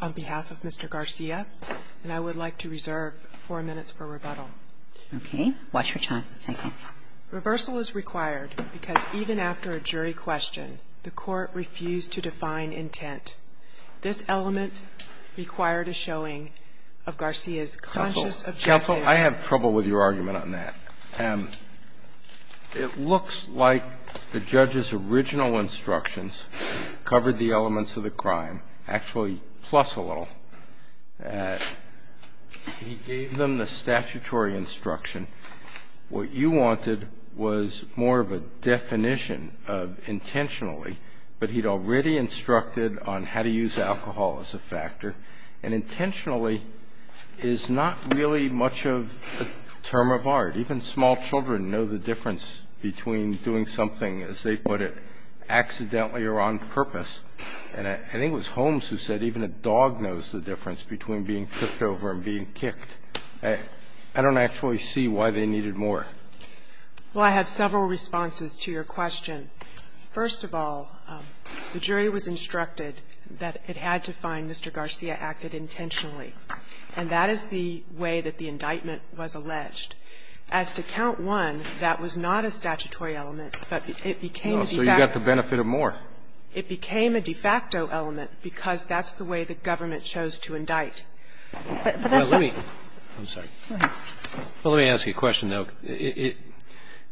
on behalf of Mr. Garcia, and I would like to reserve four minutes for rebuttal. Okay, watch your time, thank you. Reversal is required because even after a jury question, the Court refused to define intent. This element required a showing of Garcia's conscious objective. Counsel, I have trouble with your argument on that. It looks like the judge's original instructions covered the elements of the crime, actually plus a little. He gave them the statutory instruction. What you wanted was more of a definition of intentionally, but he'd already instructed on how to use alcohol as a factor, and intentionally is not really much of a term of art. Even small children know the difference between doing something, as they put it, accidentally or on purpose, and I think it was Holmes who said even a dog knows the difference between being kicked over and being kicked. I don't actually see why they needed more. Well, I have several responses to your question. First of all, the jury was instructed that it had to find Mr. Garcia acted intentionally, and that is the way that the indictment was alleged. As to count one, that was not a statutory element, but it became a de facto. No, so you got the benefit of more. It became a de facto element because that's the way the government chose to indict. But that's not. Let me ask you a question, though.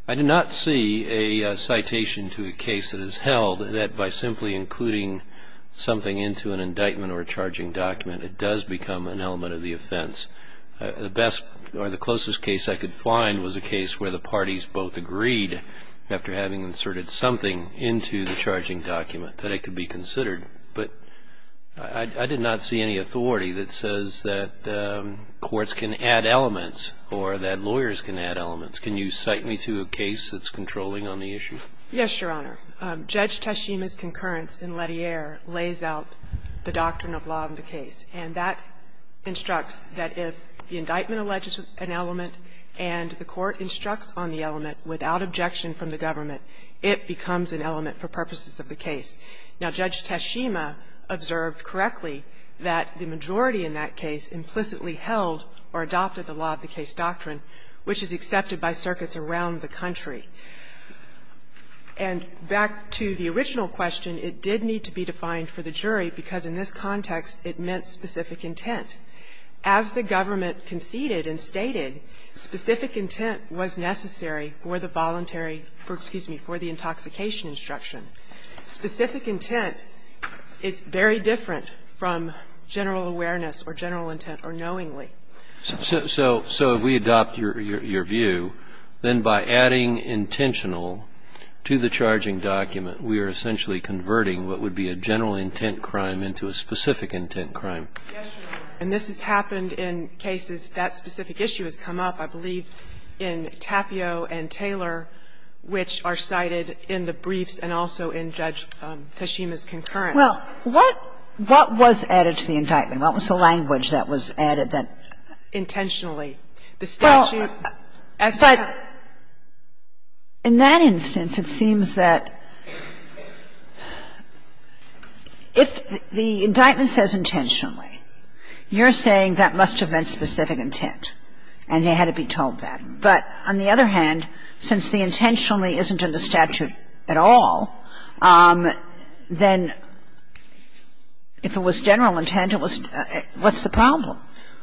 I did not see a citation to a case that is held that by simply including something into an indictment or a charging document it does become an element of the offense. The best or the closest case I could find was a case where the parties both agreed, after having inserted something into the charging document, that it could be considered. But I did not see any authority that says that courts can add elements or that lawyers can add elements. Can you cite me to a case that's controlling on the issue? Yes, Your Honor. Judge Tashima's concurrence in Lettier lays out the doctrine of law of the case. And that instructs that if the indictment alleges an element and the court instructs on the element without objection from the government, it becomes an element for purposes of the case. Now, Judge Tashima observed correctly that the majority in that case implicitly held or adopted the law of the case doctrine, which is accepted by circuits around the country. And back to the original question, it did need to be defined for the jury, because in this context it meant specific intent. As the government conceded and stated, specific intent was necessary for the voluntary for, excuse me, for the intoxication instruction. Specific intent is very different from general awareness or general intent or knowingly. So if we adopt your view, then by adding intentional to the charging document, we are essentially converting what would be a general intent crime into a specific intent crime. Yes, Your Honor. And this has happened in cases that specific issue has come up, I believe, in Tapio and Taylor, which are cited in the briefs and also in Judge Tashima's concurrence. Well, what was added to the indictment? What was the language that was added that intentionally, the statute as to the crime? In that instance, it seems that if the indictment says intentionally, you're saying that must have meant specific intent, and they had to be told that. But on the other hand, since the intentionally isn't in the statute at all, then if it was general intent, what's the problem?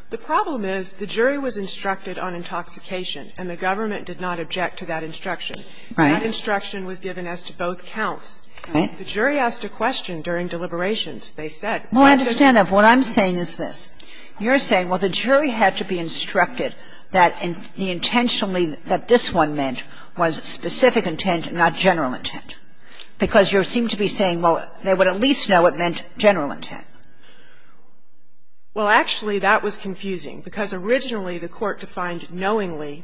The problem is the jury was instructed on intoxication, and the government did not object to that instruction. Right. That instruction was given as to both counts. Right. The jury asked a question during deliberations. They said, why does it? Well, I understand that. But what I'm saying is this. You're saying, well, the jury had to be instructed that the intentionally that this one meant was specific intent, not general intent, because you seem to be Well, actually, that was confusing, because originally the Court defined knowingly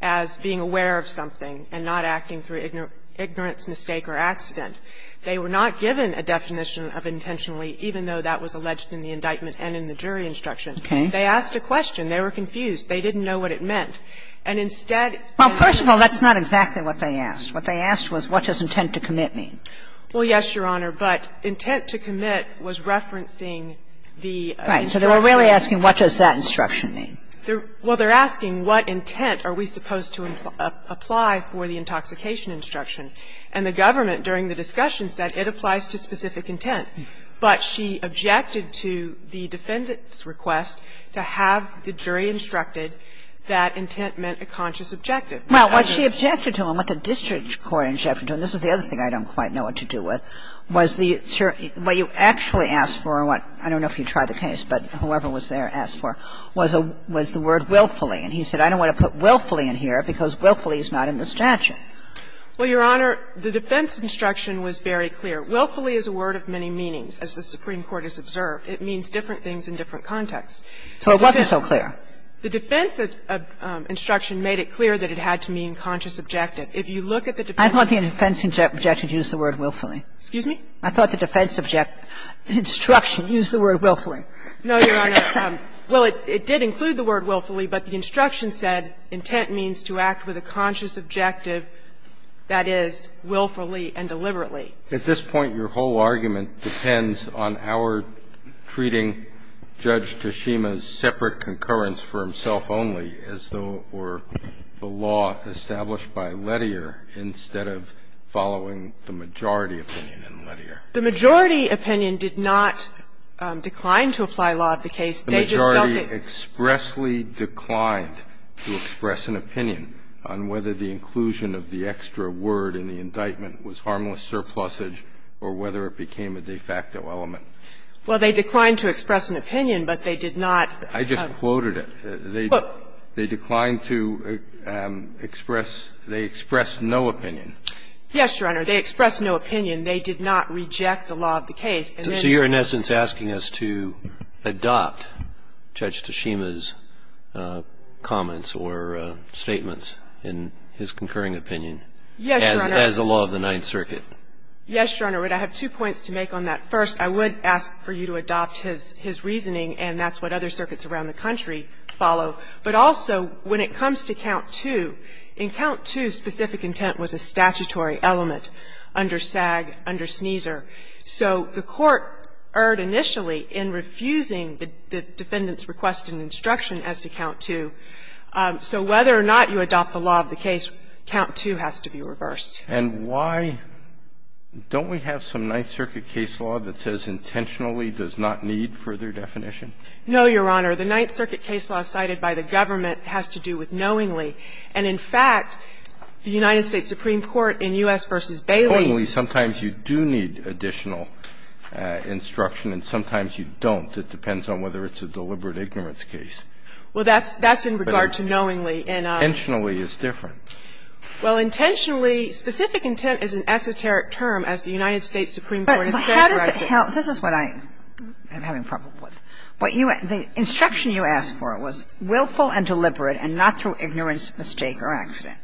as being aware of something and not acting through ignorance, mistake or accident. They were not given a definition of intentionally, even though that was alleged in the indictment and in the jury instruction. Okay. They asked a question. They were confused. They didn't know what it meant. And instead of Well, first of all, that's not exactly what they asked. What they asked was, what does intent to commit mean? Well, yes, Your Honor, but intent to commit was referencing the instruction. Right. So they were really asking, what does that instruction mean? Well, they're asking, what intent are we supposed to apply for the intoxication instruction? And the government, during the discussion, said it applies to specific intent. But she objected to the defendant's request to have the jury instructed that intent meant a conscious objective. Well, what she objected to and what the district court objected to, and this is the case I don't know what to do with, was the jury – what you actually asked for and what – I don't know if you tried the case, but whoever was there asked for was a – was the word willfully. And he said, I don't want to put willfully in here because willfully is not in the statute. Well, Your Honor, the defense instruction was very clear. Willfully is a word of many meanings, as the Supreme Court has observed. It means different things in different contexts. So it wasn't so clear. The defense instruction made it clear that it had to mean conscious objective. If you look at the defense instruction. I thought the defense objected to use the word willfully. Excuse me? I thought the defense object – instruction used the word willfully. No, Your Honor. Well, it did include the word willfully, but the instruction said intent means to act with a conscious objective, that is, willfully and deliberately. At this point, your whole argument depends on our treating Judge Toshima's separate concurrence for himself only, as though it were the law established by Lettier instead of following the majority opinion in Lettier. The majority opinion did not decline to apply law to the case. They just felt that – The majority expressly declined to express an opinion on whether the inclusion of the extra word in the indictment was harmless surplusage or whether it became a de facto element. Well, they declined to express an opinion, but they did not – I just quoted it. They declined to express – they expressed no opinion. Yes, Your Honor. They expressed no opinion. They did not reject the law of the case. And then – So you're, in essence, asking us to adopt Judge Toshima's comments or statements in his concurring opinion as the law of the Ninth Circuit? Yes, Your Honor. I have two points to make on that. First, I would ask for you to adopt his reasoning, and that's what other circuits around the country follow. But also, when it comes to Count II, in Count II, specific intent was a statutory element under SAG, under Sneezer. So the Court erred initially in refusing the defendant's request and instruction as to Count II. So whether or not you adopt the law of the case, Count II has to be reversed. And why don't we have some Ninth Circuit case law that says intentionally does not need further definition? No, Your Honor. The Ninth Circuit case law cited by the government has to do with knowingly. And, in fact, the United States Supreme Court in U.S. v. Bailey – Accordingly, sometimes you do need additional instruction and sometimes you don't. It depends on whether it's a deliberate ignorance case. Well, that's in regard to knowingly. Intentionally is different. Well, intentionally, specific intent is an esoteric term, as the United States Supreme Court has characterized it. But how does it help? This is what I am having trouble with. What you – the instruction you asked for was willful and deliberate and not through ignorance, mistake or accident.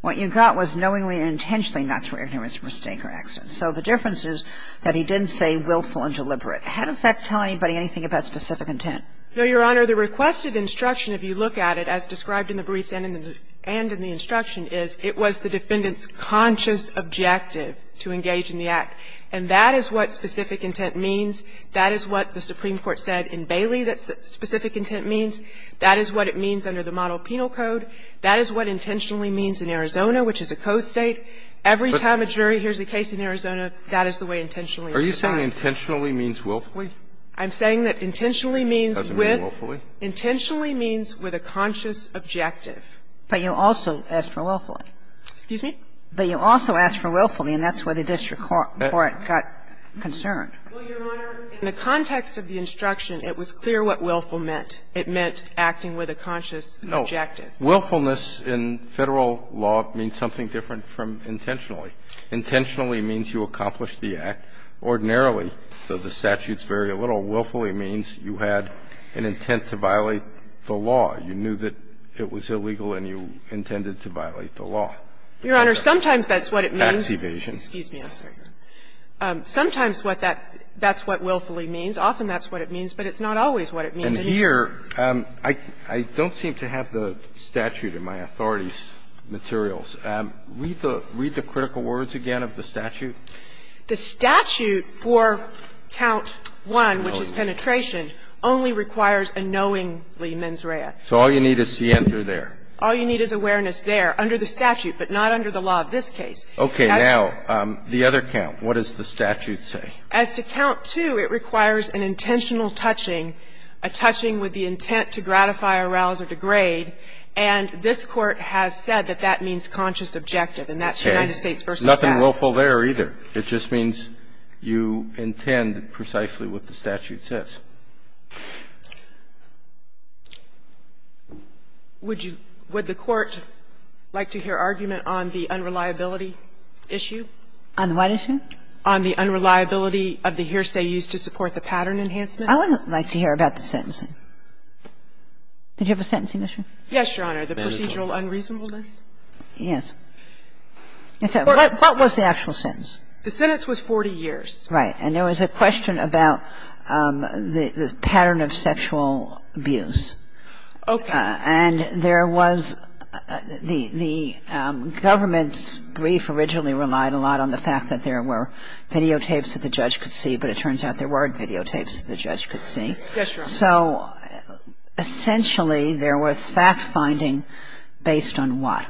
What you got was knowingly and intentionally not through ignorance, mistake or accident. So the difference is that he didn't say willful and deliberate. How does that tell anybody anything about specific intent? No, Your Honor. The requested instruction, if you look at it, as described in the briefs and in the instruction, is it was the defendant's conscious objective to engage in the act. And that is what specific intent means. That is what the Supreme Court said in Bailey that specific intent means. That is what it means under the model penal code. That is what intentionally means in Arizona, which is a code state. Every time a jury hears a case in Arizona, that is the way intentionally is defined. Are you saying intentionally means willfully? I'm saying that intentionally means with – Does it mean willfully? Intentionally means with a conscious objective. But you also asked for willfully. Excuse me? But you also asked for willfully, and that's where the district court got concerned. Well, Your Honor, in the context of the instruction, it was clear what willful meant. It meant acting with a conscious objective. No. Willfulness in Federal law means something different from intentionally. Intentionally means you accomplished the act. Ordinarily, though the statutes vary a little, willfully means you had an intent to violate the law. You knew that it was illegal and you intended to violate the law. Your Honor, sometimes that's what it means. Tax evasion. Excuse me. I'm sorry. Sometimes what that – that's what willfully means. Often that's what it means, but it's not always what it means. And here, I don't seem to have the statute in my authorities' materials. Read the critical words again of the statute. The statute for count 1, which is penetration, only requires a knowingly mens rea. So all you need is scienter there. All you need is awareness there, under the statute, but not under the law of this case. Okay. Now, the other count, what does the statute say? As to count 2, it requires an intentional touching, a touching with the intent to gratify, arouse, or degrade. And this Court has said that that means conscious objective, and that's United States v. South. Nothing willful there either. It just means you intend precisely what the statute says. Would you – would the Court like to hear argument on the unreliability issue? On what issue? On the unreliability of the hearsay used to support the pattern enhancement. I would like to hear about the sentencing. Did you have a sentencing issue? Yes, Your Honor. The procedural unreasonableness? Yes. What was the actual sentence? The sentence was 40 years. Right. And there was a question about the pattern of sexual abuse. Okay. And there was the government's brief originally relied a lot on the fact that there were videotapes that the judge could see, but it turns out there weren't videotapes that the judge could see. Yes, Your Honor. So essentially there was fact-finding based on what?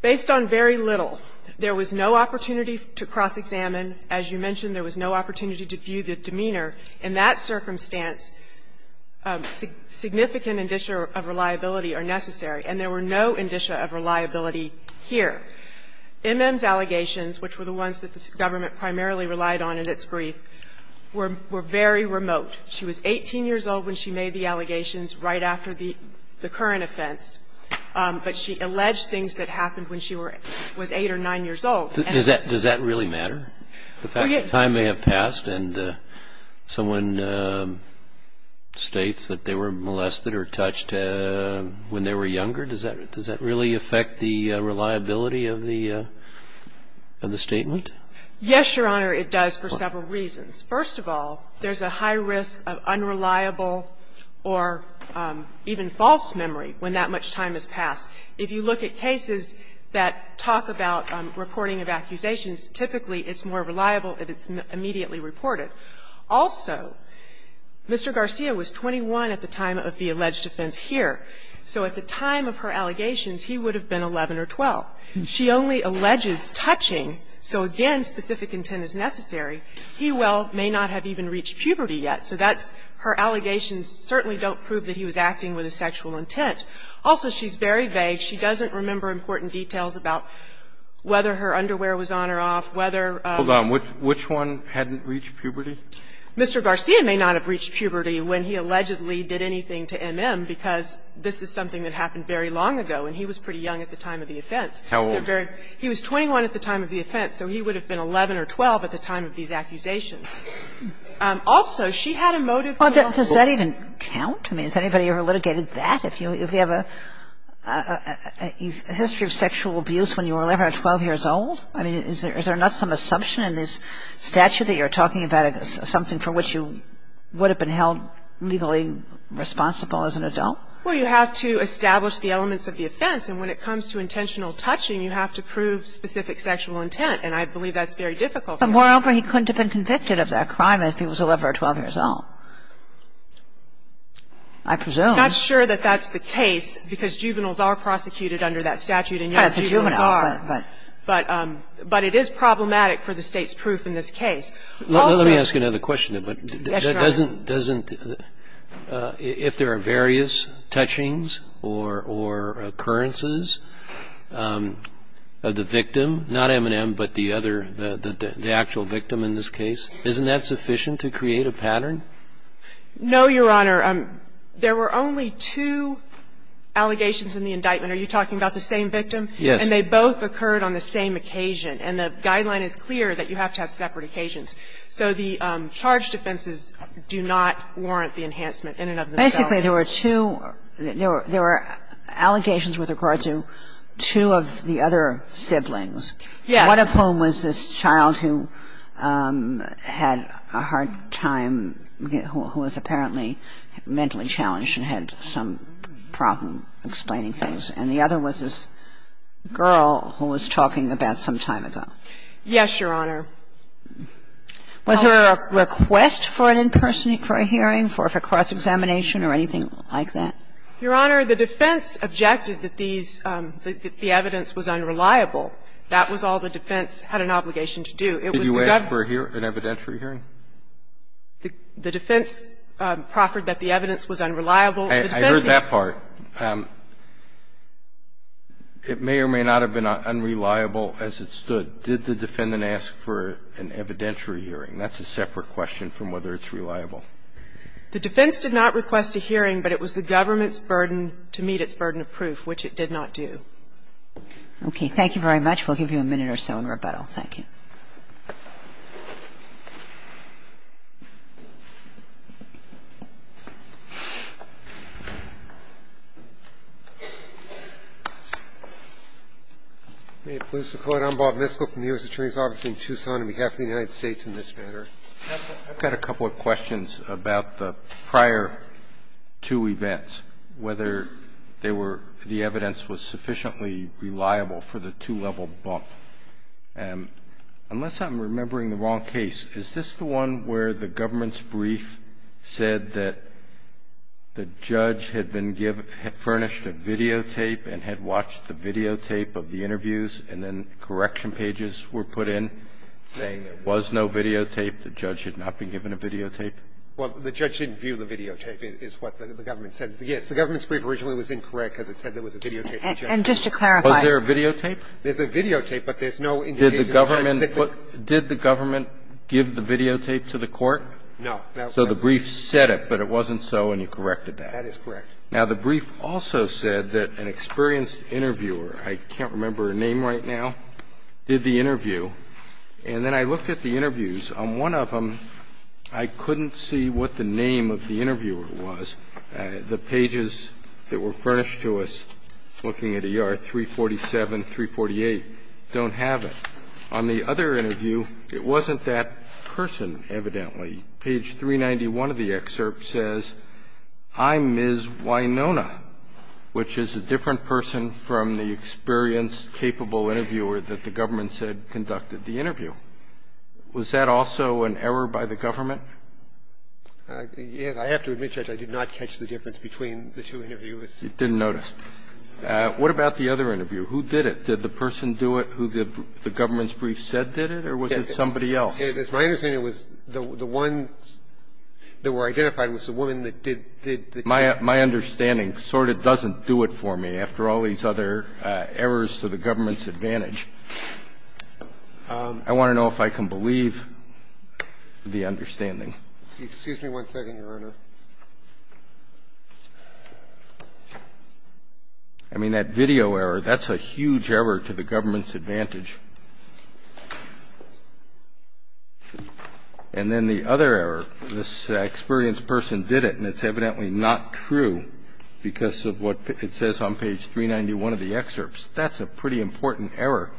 Based on very little. There was no opportunity to cross-examine. As you mentioned, there was no opportunity to view the demeanor. In that circumstance, significant indicia of reliability are necessary, and there were no indicia of reliability here. M.M.'s allegations, which were the ones that the government primarily relied on in its brief, were very remote. She was 18 years old when she made the allegations, right after the current offense. But she alleged things that happened when she was 8 or 9 years old. Does that really matter? The fact that time may have passed and someone states that they were molested or touched when they were younger, does that really affect the reliability of the statement? Yes, Your Honor, it does for several reasons. First of all, there's a high risk of unreliable or even false memory when that much time has passed. If you look at cases that talk about reporting of accusations, typically it's more reliable if it's immediately reported. Also, Mr. Garcia was 21 at the time of the alleged offense here. So at the time of her allegations, he would have been 11 or 12. She only alleges touching, so again, specific intent is necessary. He well may not have even reached puberty yet, so that's her allegations certainly don't prove that he was acting with a sexual intent. Also, she's very vague. She doesn't remember important details about whether her underwear was on or off, whether her own. Hold on. Which one hadn't reached puberty? Mr. Garcia may not have reached puberty when he allegedly did anything to M.M. because this is something that happened very long ago and he was pretty young at the time of the offense. How old? He was 21 at the time of the offense, so he would have been 11 or 12 at the time of these accusations. Also, she had a motive to do it. Well, does that even count? I mean, has anybody ever litigated that? If you have a history of sexual abuse when you were 11 or 12 years old? I mean, is there not some assumption in this statute that you're talking about something for which you would have been held legally responsible as an adult? Well, you have to establish the elements of the offense, and when it comes to intentional touching, you have to prove specific sexual intent, and I believe that's very difficult. But moreover, he couldn't have been convicted of that crime if he was 11 or 12 years old. I presume. I'm not sure that that's the case because juveniles are prosecuted under that statute and young juveniles are. But it is problematic for the State's proof in this case. Let me ask you another question, but doesn't the – if there are various touchings or occurrences of the victim, not M&M, but the other, the actual victim in this case, isn't that sufficient to create a pattern? No, Your Honor. There were only two allegations in the indictment. Are you talking about the same victim? Yes. And they both occurred on the same occasion, and the guideline is clear that you have to have separate occasions. So the charge defenses do not warrant the enhancement in and of themselves. Basically, there were two – there were allegations with regard to two of the other siblings. Yes. One of whom was this child who had a hard time, who was apparently mentally challenged and had some problem explaining things, and the other was this girl who was talking about some time ago. Yes, Your Honor. Was there a request for an in-person – for a hearing for cross-examination or anything like that? Your Honor, the defense objected that these – that the evidence was unreliable. That was all the defense had an obligation to do. It was the government's – Did you ask for an evidentiary hearing? The defense proffered that the evidence was unreliable. I heard that part. It may or may not have been unreliable as it stood. Did the defendant ask for an evidentiary hearing? That's a separate question from whether it's reliable. The defense did not request a hearing, but it was the government's burden to meet its burden of proof, which it did not do. Okay. Thank you very much. We'll give you a minute or so in rebuttal. Thank you. May it please the Court. I'm Bob Miskell from the U.S. Attorney's Office in Tucson, on behalf of the United States in this matter. I've got a couple of questions about the prior two events, whether they were – the evidence was sufficiently reliable for the two-level bump. Unless I'm remembering the wrong case, is this the one where the government's brief said that the judge had been – had furnished a videotape and had watched the videotape of the interviews, and then correction pages were put in, saying there was no videotape, the judge had not been given a videotape? Well, the judge didn't view the videotape, is what the government said. Yes. The government's brief originally was incorrect because it said there was a videotape of the judge. And just to clarify. Was there a videotape? There's a videotape, but there's no indication of the fact that the – Did the government put – did the government give the videotape to the Court? No. So the brief said it, but it wasn't so, and you corrected that. That is correct. Now, the brief also said that an experienced interviewer – I can't remember her name right now – did the interview, and then I looked at the interviews. On one of them, I couldn't see what the name of the interviewer was. The pages that were furnished to us, looking at ER 347, 348, don't have it. On the other interview, it wasn't that person, evidently. Page 391 of the excerpt says, I'm Ms. Winona, which is a different person from the experienced, capable interviewer that the government said conducted the interview. Was that also an error by the government? Yes. I have to admit, Judge, I did not catch the difference between the two interviews. You didn't notice. What about the other interview? Who did it? Did the person do it who the government's brief said did it, or was it somebody else? It's my understanding it was the ones that were identified was the woman that did the interview. My understanding sort of doesn't do it for me, after all these other errors to the government's advantage. I want to know if I can believe the understanding. Excuse me one second, Your Honor. I mean, that video error, that's a huge error to the government's advantage. And then the other error, this experienced person did it, and it's evidently not true because of what it says on page 391 of the excerpts. That's a pretty important error.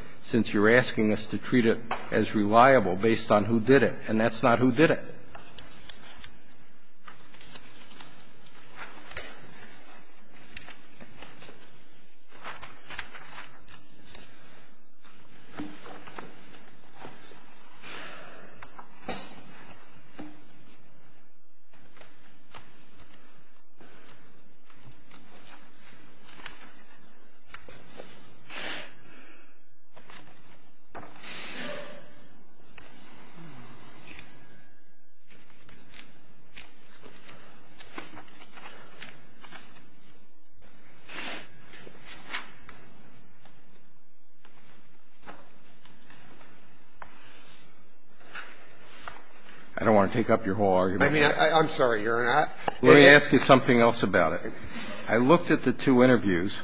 And I don't think it's a bad error, Your Honor, since you're asking us to treat it as reliable based on who did it, and that's not who did it. I don't want to take up your whole argument. I mean, I'm sorry, Your Honor. Let me ask you something else about it. I looked at the two interviews,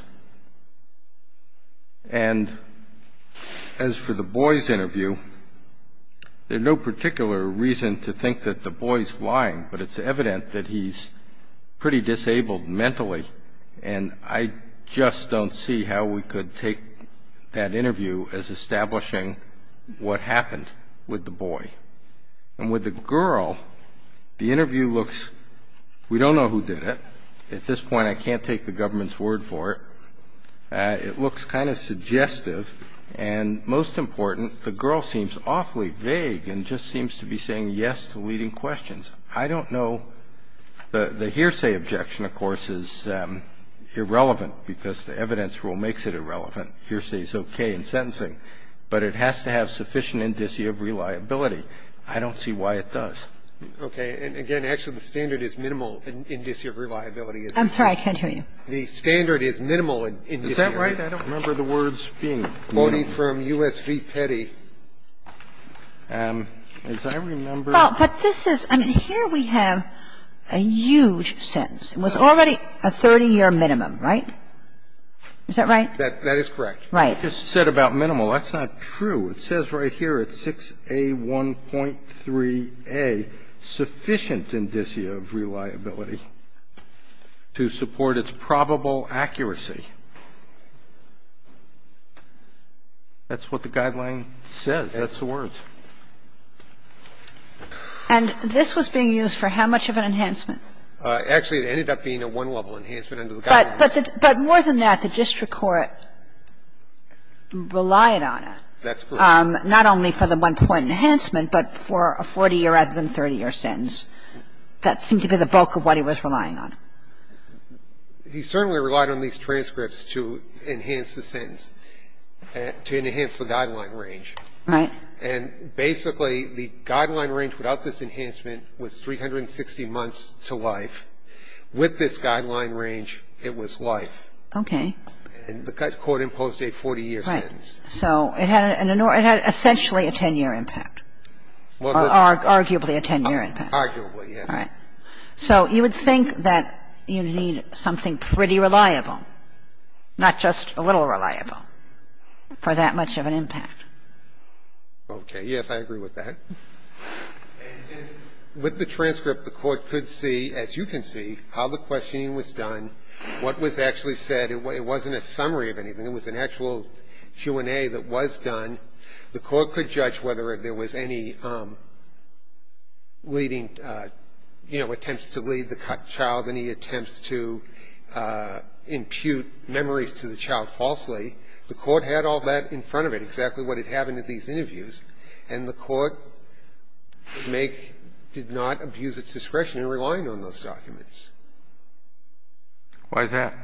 and as for the boy's interview, there's no particular reason to think that the boy's lying, but it's evident that he's pretty disabled mentally, and I just don't see how we could take that interview as establishing what happened with the boy. And with the girl, the interview looks, we don't know who did it. At this point, I can't take the government's word for it. It looks kind of suggestive, and most important, the girl seems awfully vague and just seems to be saying yes to leading questions. I don't know. The hearsay objection, of course, is irrelevant because the evidence rule makes it irrelevant. Hearsay is okay in sentencing, but it has to have sufficient indicia of reliability. I don't see why it does. Roberts, and again, actually, the standard is minimal indicia of reliability. I'm sorry, I can't hear you. The standard is minimal indicia of reliability. Is that right? I don't remember the words being minimal. I'm voting for U.S. v. Petty. As I remember the words being minimal. Well, but this is, I mean, here we have a huge sentence. It was already a 30-year minimum, right? Is that right? That is correct. Right. I just said about minimal. That's not true. It says right here at 6A1.3a, sufficient indicia of reliability to support its probable accuracy. That's what the guideline says. That's the words. And this was being used for how much of an enhancement? Actually, it ended up being a one-level enhancement under the guideline. But more than that, the district court relied on it. That's correct. Not only for the one-point enhancement, but for a 40-year rather than 30-year sentence. That seemed to be the bulk of what he was relying on. He certainly relied on these transcripts. He relied on these transcripts to enhance the sentence, to enhance the guideline range. Right. And basically, the guideline range without this enhancement was 360 months to life. With this guideline range, it was life. Okay. And the court imposed a 40-year sentence. Right. So it had an essentially a 10-year impact, or arguably a 10-year impact. Arguably, yes. Right. So you would think that you need something pretty reliable. Not just a little reliable for that much of an impact. Okay. Yes, I agree with that. And with the transcript, the Court could see, as you can see, how the questioning was done, what was actually said. It wasn't a summary of anything. It was an actual Q&A that was done. The Court could judge whether there was any leading, you know, attempts to lead the child, any attempts to impute memories to the child falsely. The Court had all that in front of it, exactly what had happened at these interviews. And the Court make did not abuse its discretion in relying on those documents. Why is that?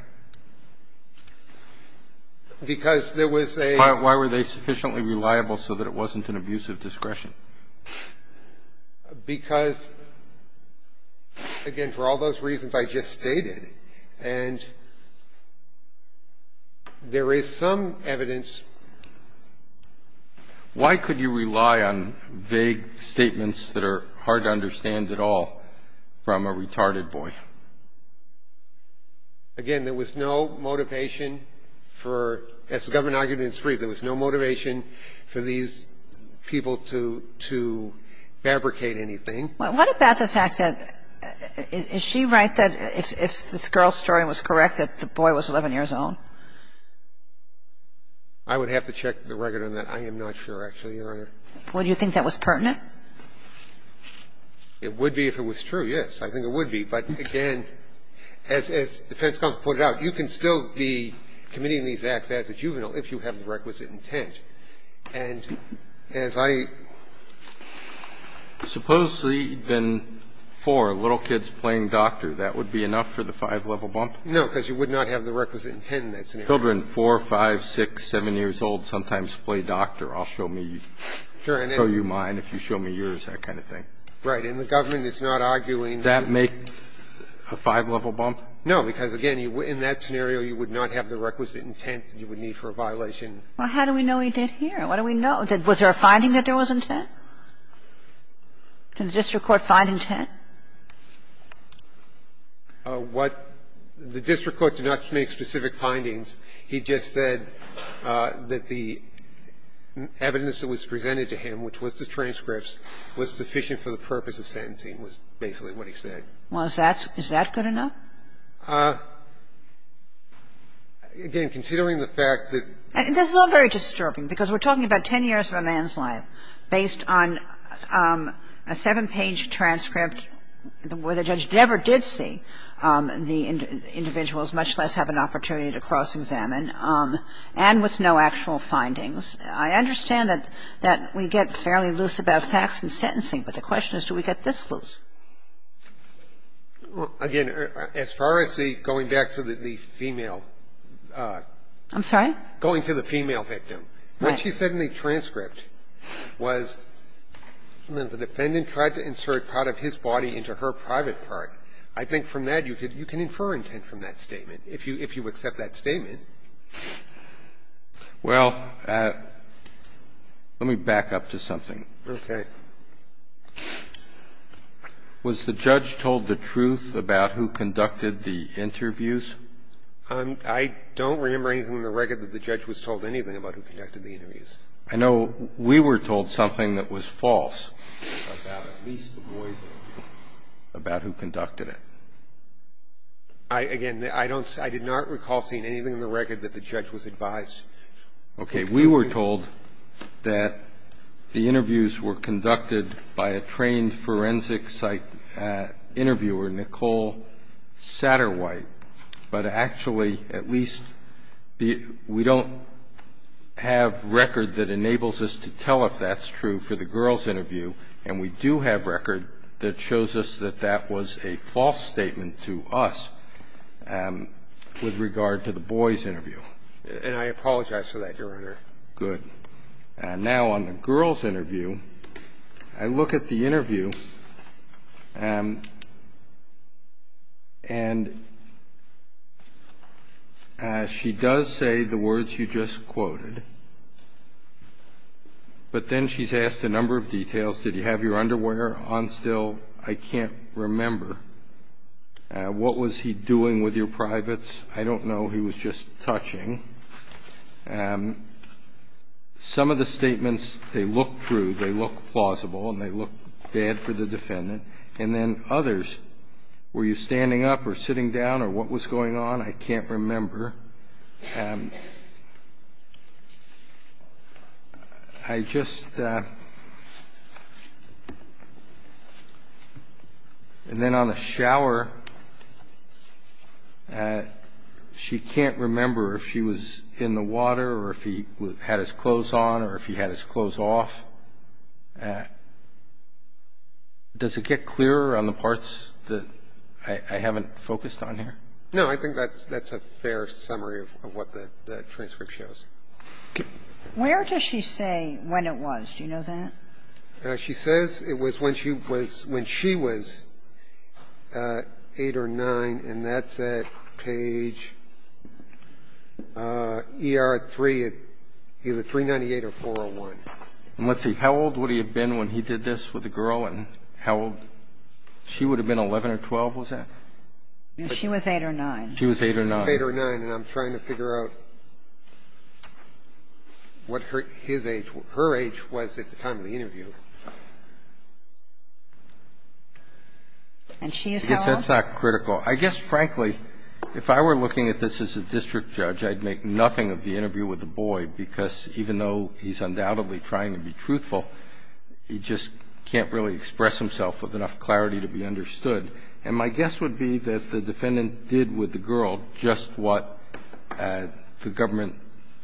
Because there was a Why were they sufficiently reliable so that it wasn't an abuse of discretion? Because, again, for all those reasons I just stated, and there is some evidence Why could you rely on vague statements that are hard to understand at all from a retarded boy? Again, there was no motivation for, as the government argued in its brief, there to fabricate anything. But what about the fact that, is she right that if this girl's story was correct, that the boy was 11 years old? I would have to check the record on that. I am not sure, actually, Your Honor. Would you think that was pertinent? It would be if it was true, yes. I think it would be. But, again, as the defense counsel pointed out, you can still be committing these acts as a juvenile if you have the requisite intent. And as I suppose, then, for little kids playing doctor, that would be enough for the five-level bump? No, because you would not have the requisite intent in that scenario. Children 4, 5, 6, 7 years old sometimes play doctor. I'll show you mine if you show me yours, that kind of thing. Right. And the government is not arguing that make a five-level bump? No, because, again, in that scenario, you would not have the requisite intent you would need for a violation. Well, how do we know he did here? What do we know? Was there a finding that there was intent? Did the district court find intent? What the district court did not make specific findings. He just said that the evidence that was presented to him, which was the transcripts, was sufficient for the purpose of sentencing, was basically what he said. Again, considering the fact that the district court did not make specific findings, this is all very disturbing, because we're talking about 10 years of a man's life based on a seven-page transcript where the judge never did see the individuals, much less have an opportunity to cross-examine, and with no actual findings. I understand that we get fairly loose about facts and sentencing, but the question is, do we get this loose? Again, as far as the going back to the female. I'm sorry? Going to the female victim. When she said in the transcript was that the defendant tried to insert part of his body into her private part, I think from that you could infer intent from that statement, if you accept that statement. Well, let me back up to something. Okay. Was the judge told the truth about who conducted the interviews? I don't remember anything in the record that the judge was told anything about who conducted the interviews. I know we were told something that was false. About who conducted it. Again, I did not recall seeing anything in the record that the judge was advised. Okay. We were told that the interviews were conducted by a trained forensic site interviewer, Nicole Satterwhite, but actually at least we don't have record that enables us to tell if that's true for the girls' interview, and we do have record that shows us that that was a false statement to us with regard to the boys' interview. And I apologize for that, Your Honor. Good. Now, on the girls' interview, I look at the interview, and she does say the words you just quoted, but then she's asked a number of details. Did you have your underwear on still? I can't remember. What was he doing with your privates? I don't know. He was just touching. Some of the statements, they look true, they look plausible, and they look bad for the defendant. And then others, were you standing up or sitting down or what was going on? I can't remember. I just – and then on the shower, she can't remember if she was in the shower or in the And then she can't remember if he was in the water or if he had his clothes on or if he had his clothes off. Does it get clearer on the parts that I haven't focused on here? No. I think that's a fair summary of what the transcript shows. Where does she say when it was? Do you know that? She says it was when she was 8 or 9, and that's at page ER-3, either 398 or 401. And let's see, how old would he have been when he did this with a girl, and how old – she would have been 11 or 12, was that? She was 8 or 9. She was 8 or 9. She was 8 or 9, and I'm trying to figure out what her – his age was. Her age was at the time of the interview. And she is how old? That's not critical. I guess, frankly, if I were looking at this as a district judge, I'd make nothing of the interview with the boy, because even though he's undoubtedly trying to be truthful, he just can't really express himself with enough clarity to be understood. And my guess would be that the defendant did with the girl just what the government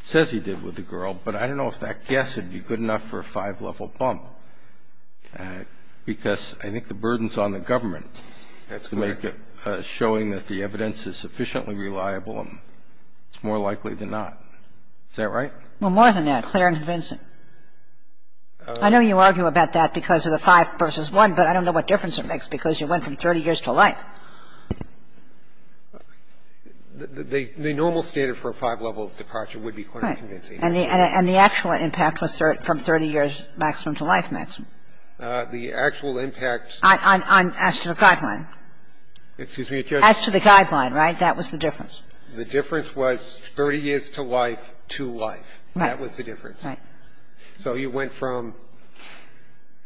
says he did with the girl. But I don't know if that guess would be good enough for a five-level bump, because I think the burden's on the government to make it showing that the evidence is sufficiently reliable, and it's more likely than not. Is that right? Well, more than that, clear and convincing. I know you argue about that because of the five versus one, but I don't know what difference it makes, because you went from 30 years to life. The normal standard for a five-level departure would be clear and convincing. And the actual impact was from 30 years maximum to life maximum. The actual impact. As to the guideline. Excuse me, Your Honor. As to the guideline, right? That was the difference. The difference was 30 years to life to life. Right. That was the difference. Right. So you went from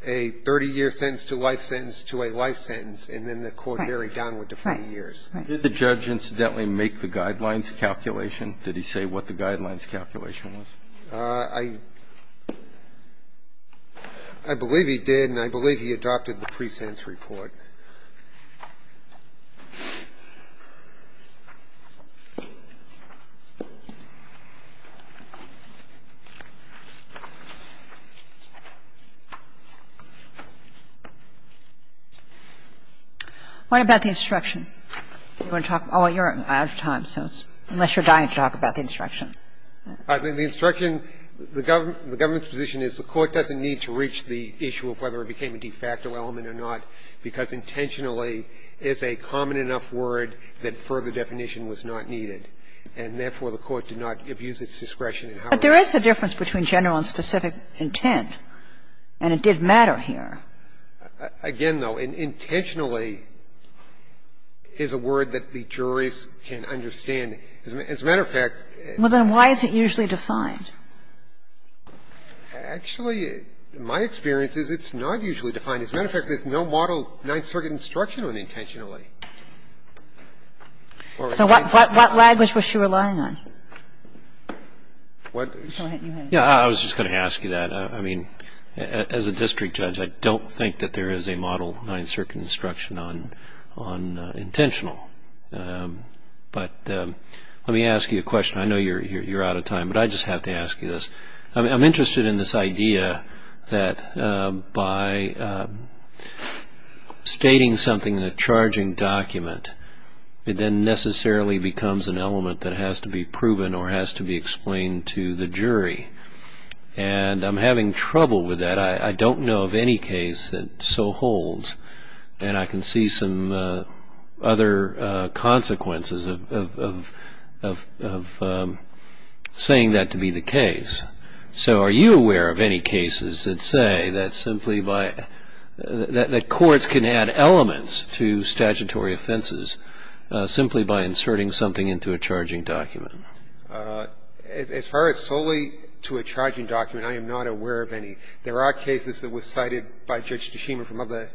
a 30-year sentence to life sentence to a life sentence, and then the court varied downward to 40 years. Right. Right. Did the judge, incidentally, make the guidelines calculation? Did he say what the guidelines calculation was? I believe he did, and I believe he adopted the pre-sentence report. What about the instruction? You want to talk about it? I'm out of time, so it's unless you're dying to talk about the instruction. The instruction, the government's position is the court doesn't need to reach the issue of whether it became a de facto element or not, because intentionally is a common enough word that further definition was not needed, and therefore the court did not abuse its discretion in how it was used. But there is a difference between general and specific intent, and it did matter here. Again, though, intentionally is a word that the juries can understand. As a matter of fact, it's not usually defined. Actually, in my experience, it's not usually defined. As a matter of fact, there's no model Ninth Circuit instruction on intentionally. So what language was she relying on? What? Go ahead. I was just going to ask you that. As a district judge, I don't think that there is a model Ninth Circuit instruction on intentional. But let me ask you a question. I know you're out of time, but I just have to ask you this. I'm interested in this idea that by stating something in a charging document, it then necessarily becomes an element that has to be proven or has to be explained to the jury. And I'm having trouble with that. I don't know of any case that so holds. And I can see some other consequences of saying that to be the case. So are you aware of any cases that say that simply by the courts can add elements to statutory offenses simply by inserting something into a charging document? As far as solely to a charging document, I am not aware of any. There are cases that were cited by Judge Tashima from other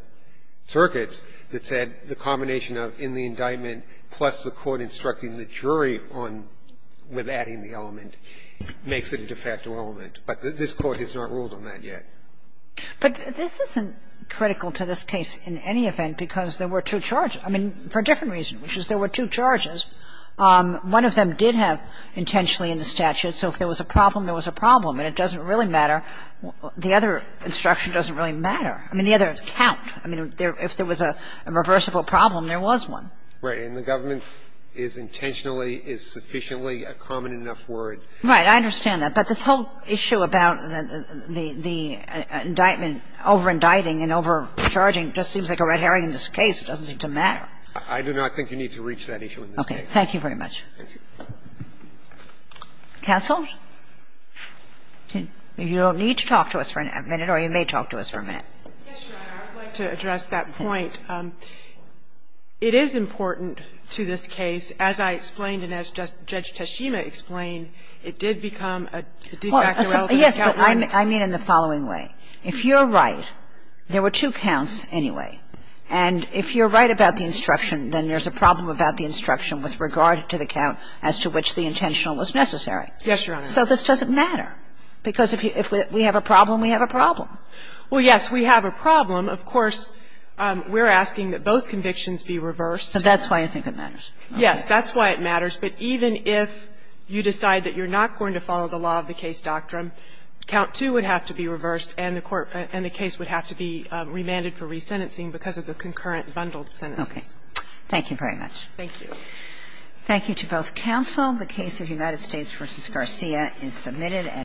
circuits that said the combination of in the indictment plus the court instructing the jury on, with adding the element, makes it a de facto element. But this Court has not ruled on that yet. But this isn't critical to this case in any event, because there were two charges for a different reason, which is there were two charges. One of them did have intentionally in the statute. So if there was a problem, there was a problem. And it doesn't really matter. The other instruction doesn't really matter. I mean, the other count. I mean, if there was a reversible problem, there was one. Right. And the government is intentionally, is sufficiently a common enough word. Right. I understand that. But this whole issue about the indictment overindicting and overcharging just seems like a red herring in this case. It doesn't seem to matter. I do not think you need to reach that issue in this case. Okay. Thank you very much. Counsel? You don't need to talk to us for a minute, or you may talk to us for a minute. Yes, Your Honor. I would like to address that point. It is important to this case, as I explained and as Judge Teshima explained, it did become a de facto relevant count. Yes, but I mean in the following way. If you're right, there were two counts anyway. And if you're right about the instruction, then there's a problem about the instruction with regard to the count as to which the intentional was necessary. Yes, Your Honor. So this doesn't matter, because if we have a problem, we have a problem. Well, yes, we have a problem. Of course, we're asking that both convictions be reversed. So that's why I think it matters. Yes, that's why it matters. But even if you decide that you're not going to follow the law of the case doctrine, count two would have to be reversed and the court and the case would have to be remanded for resentencing because of the concurrent bundled sentences. Okay. Thank you very much. Thank you. Thank you to both counsel. The case of United States v. Garcia is submitted.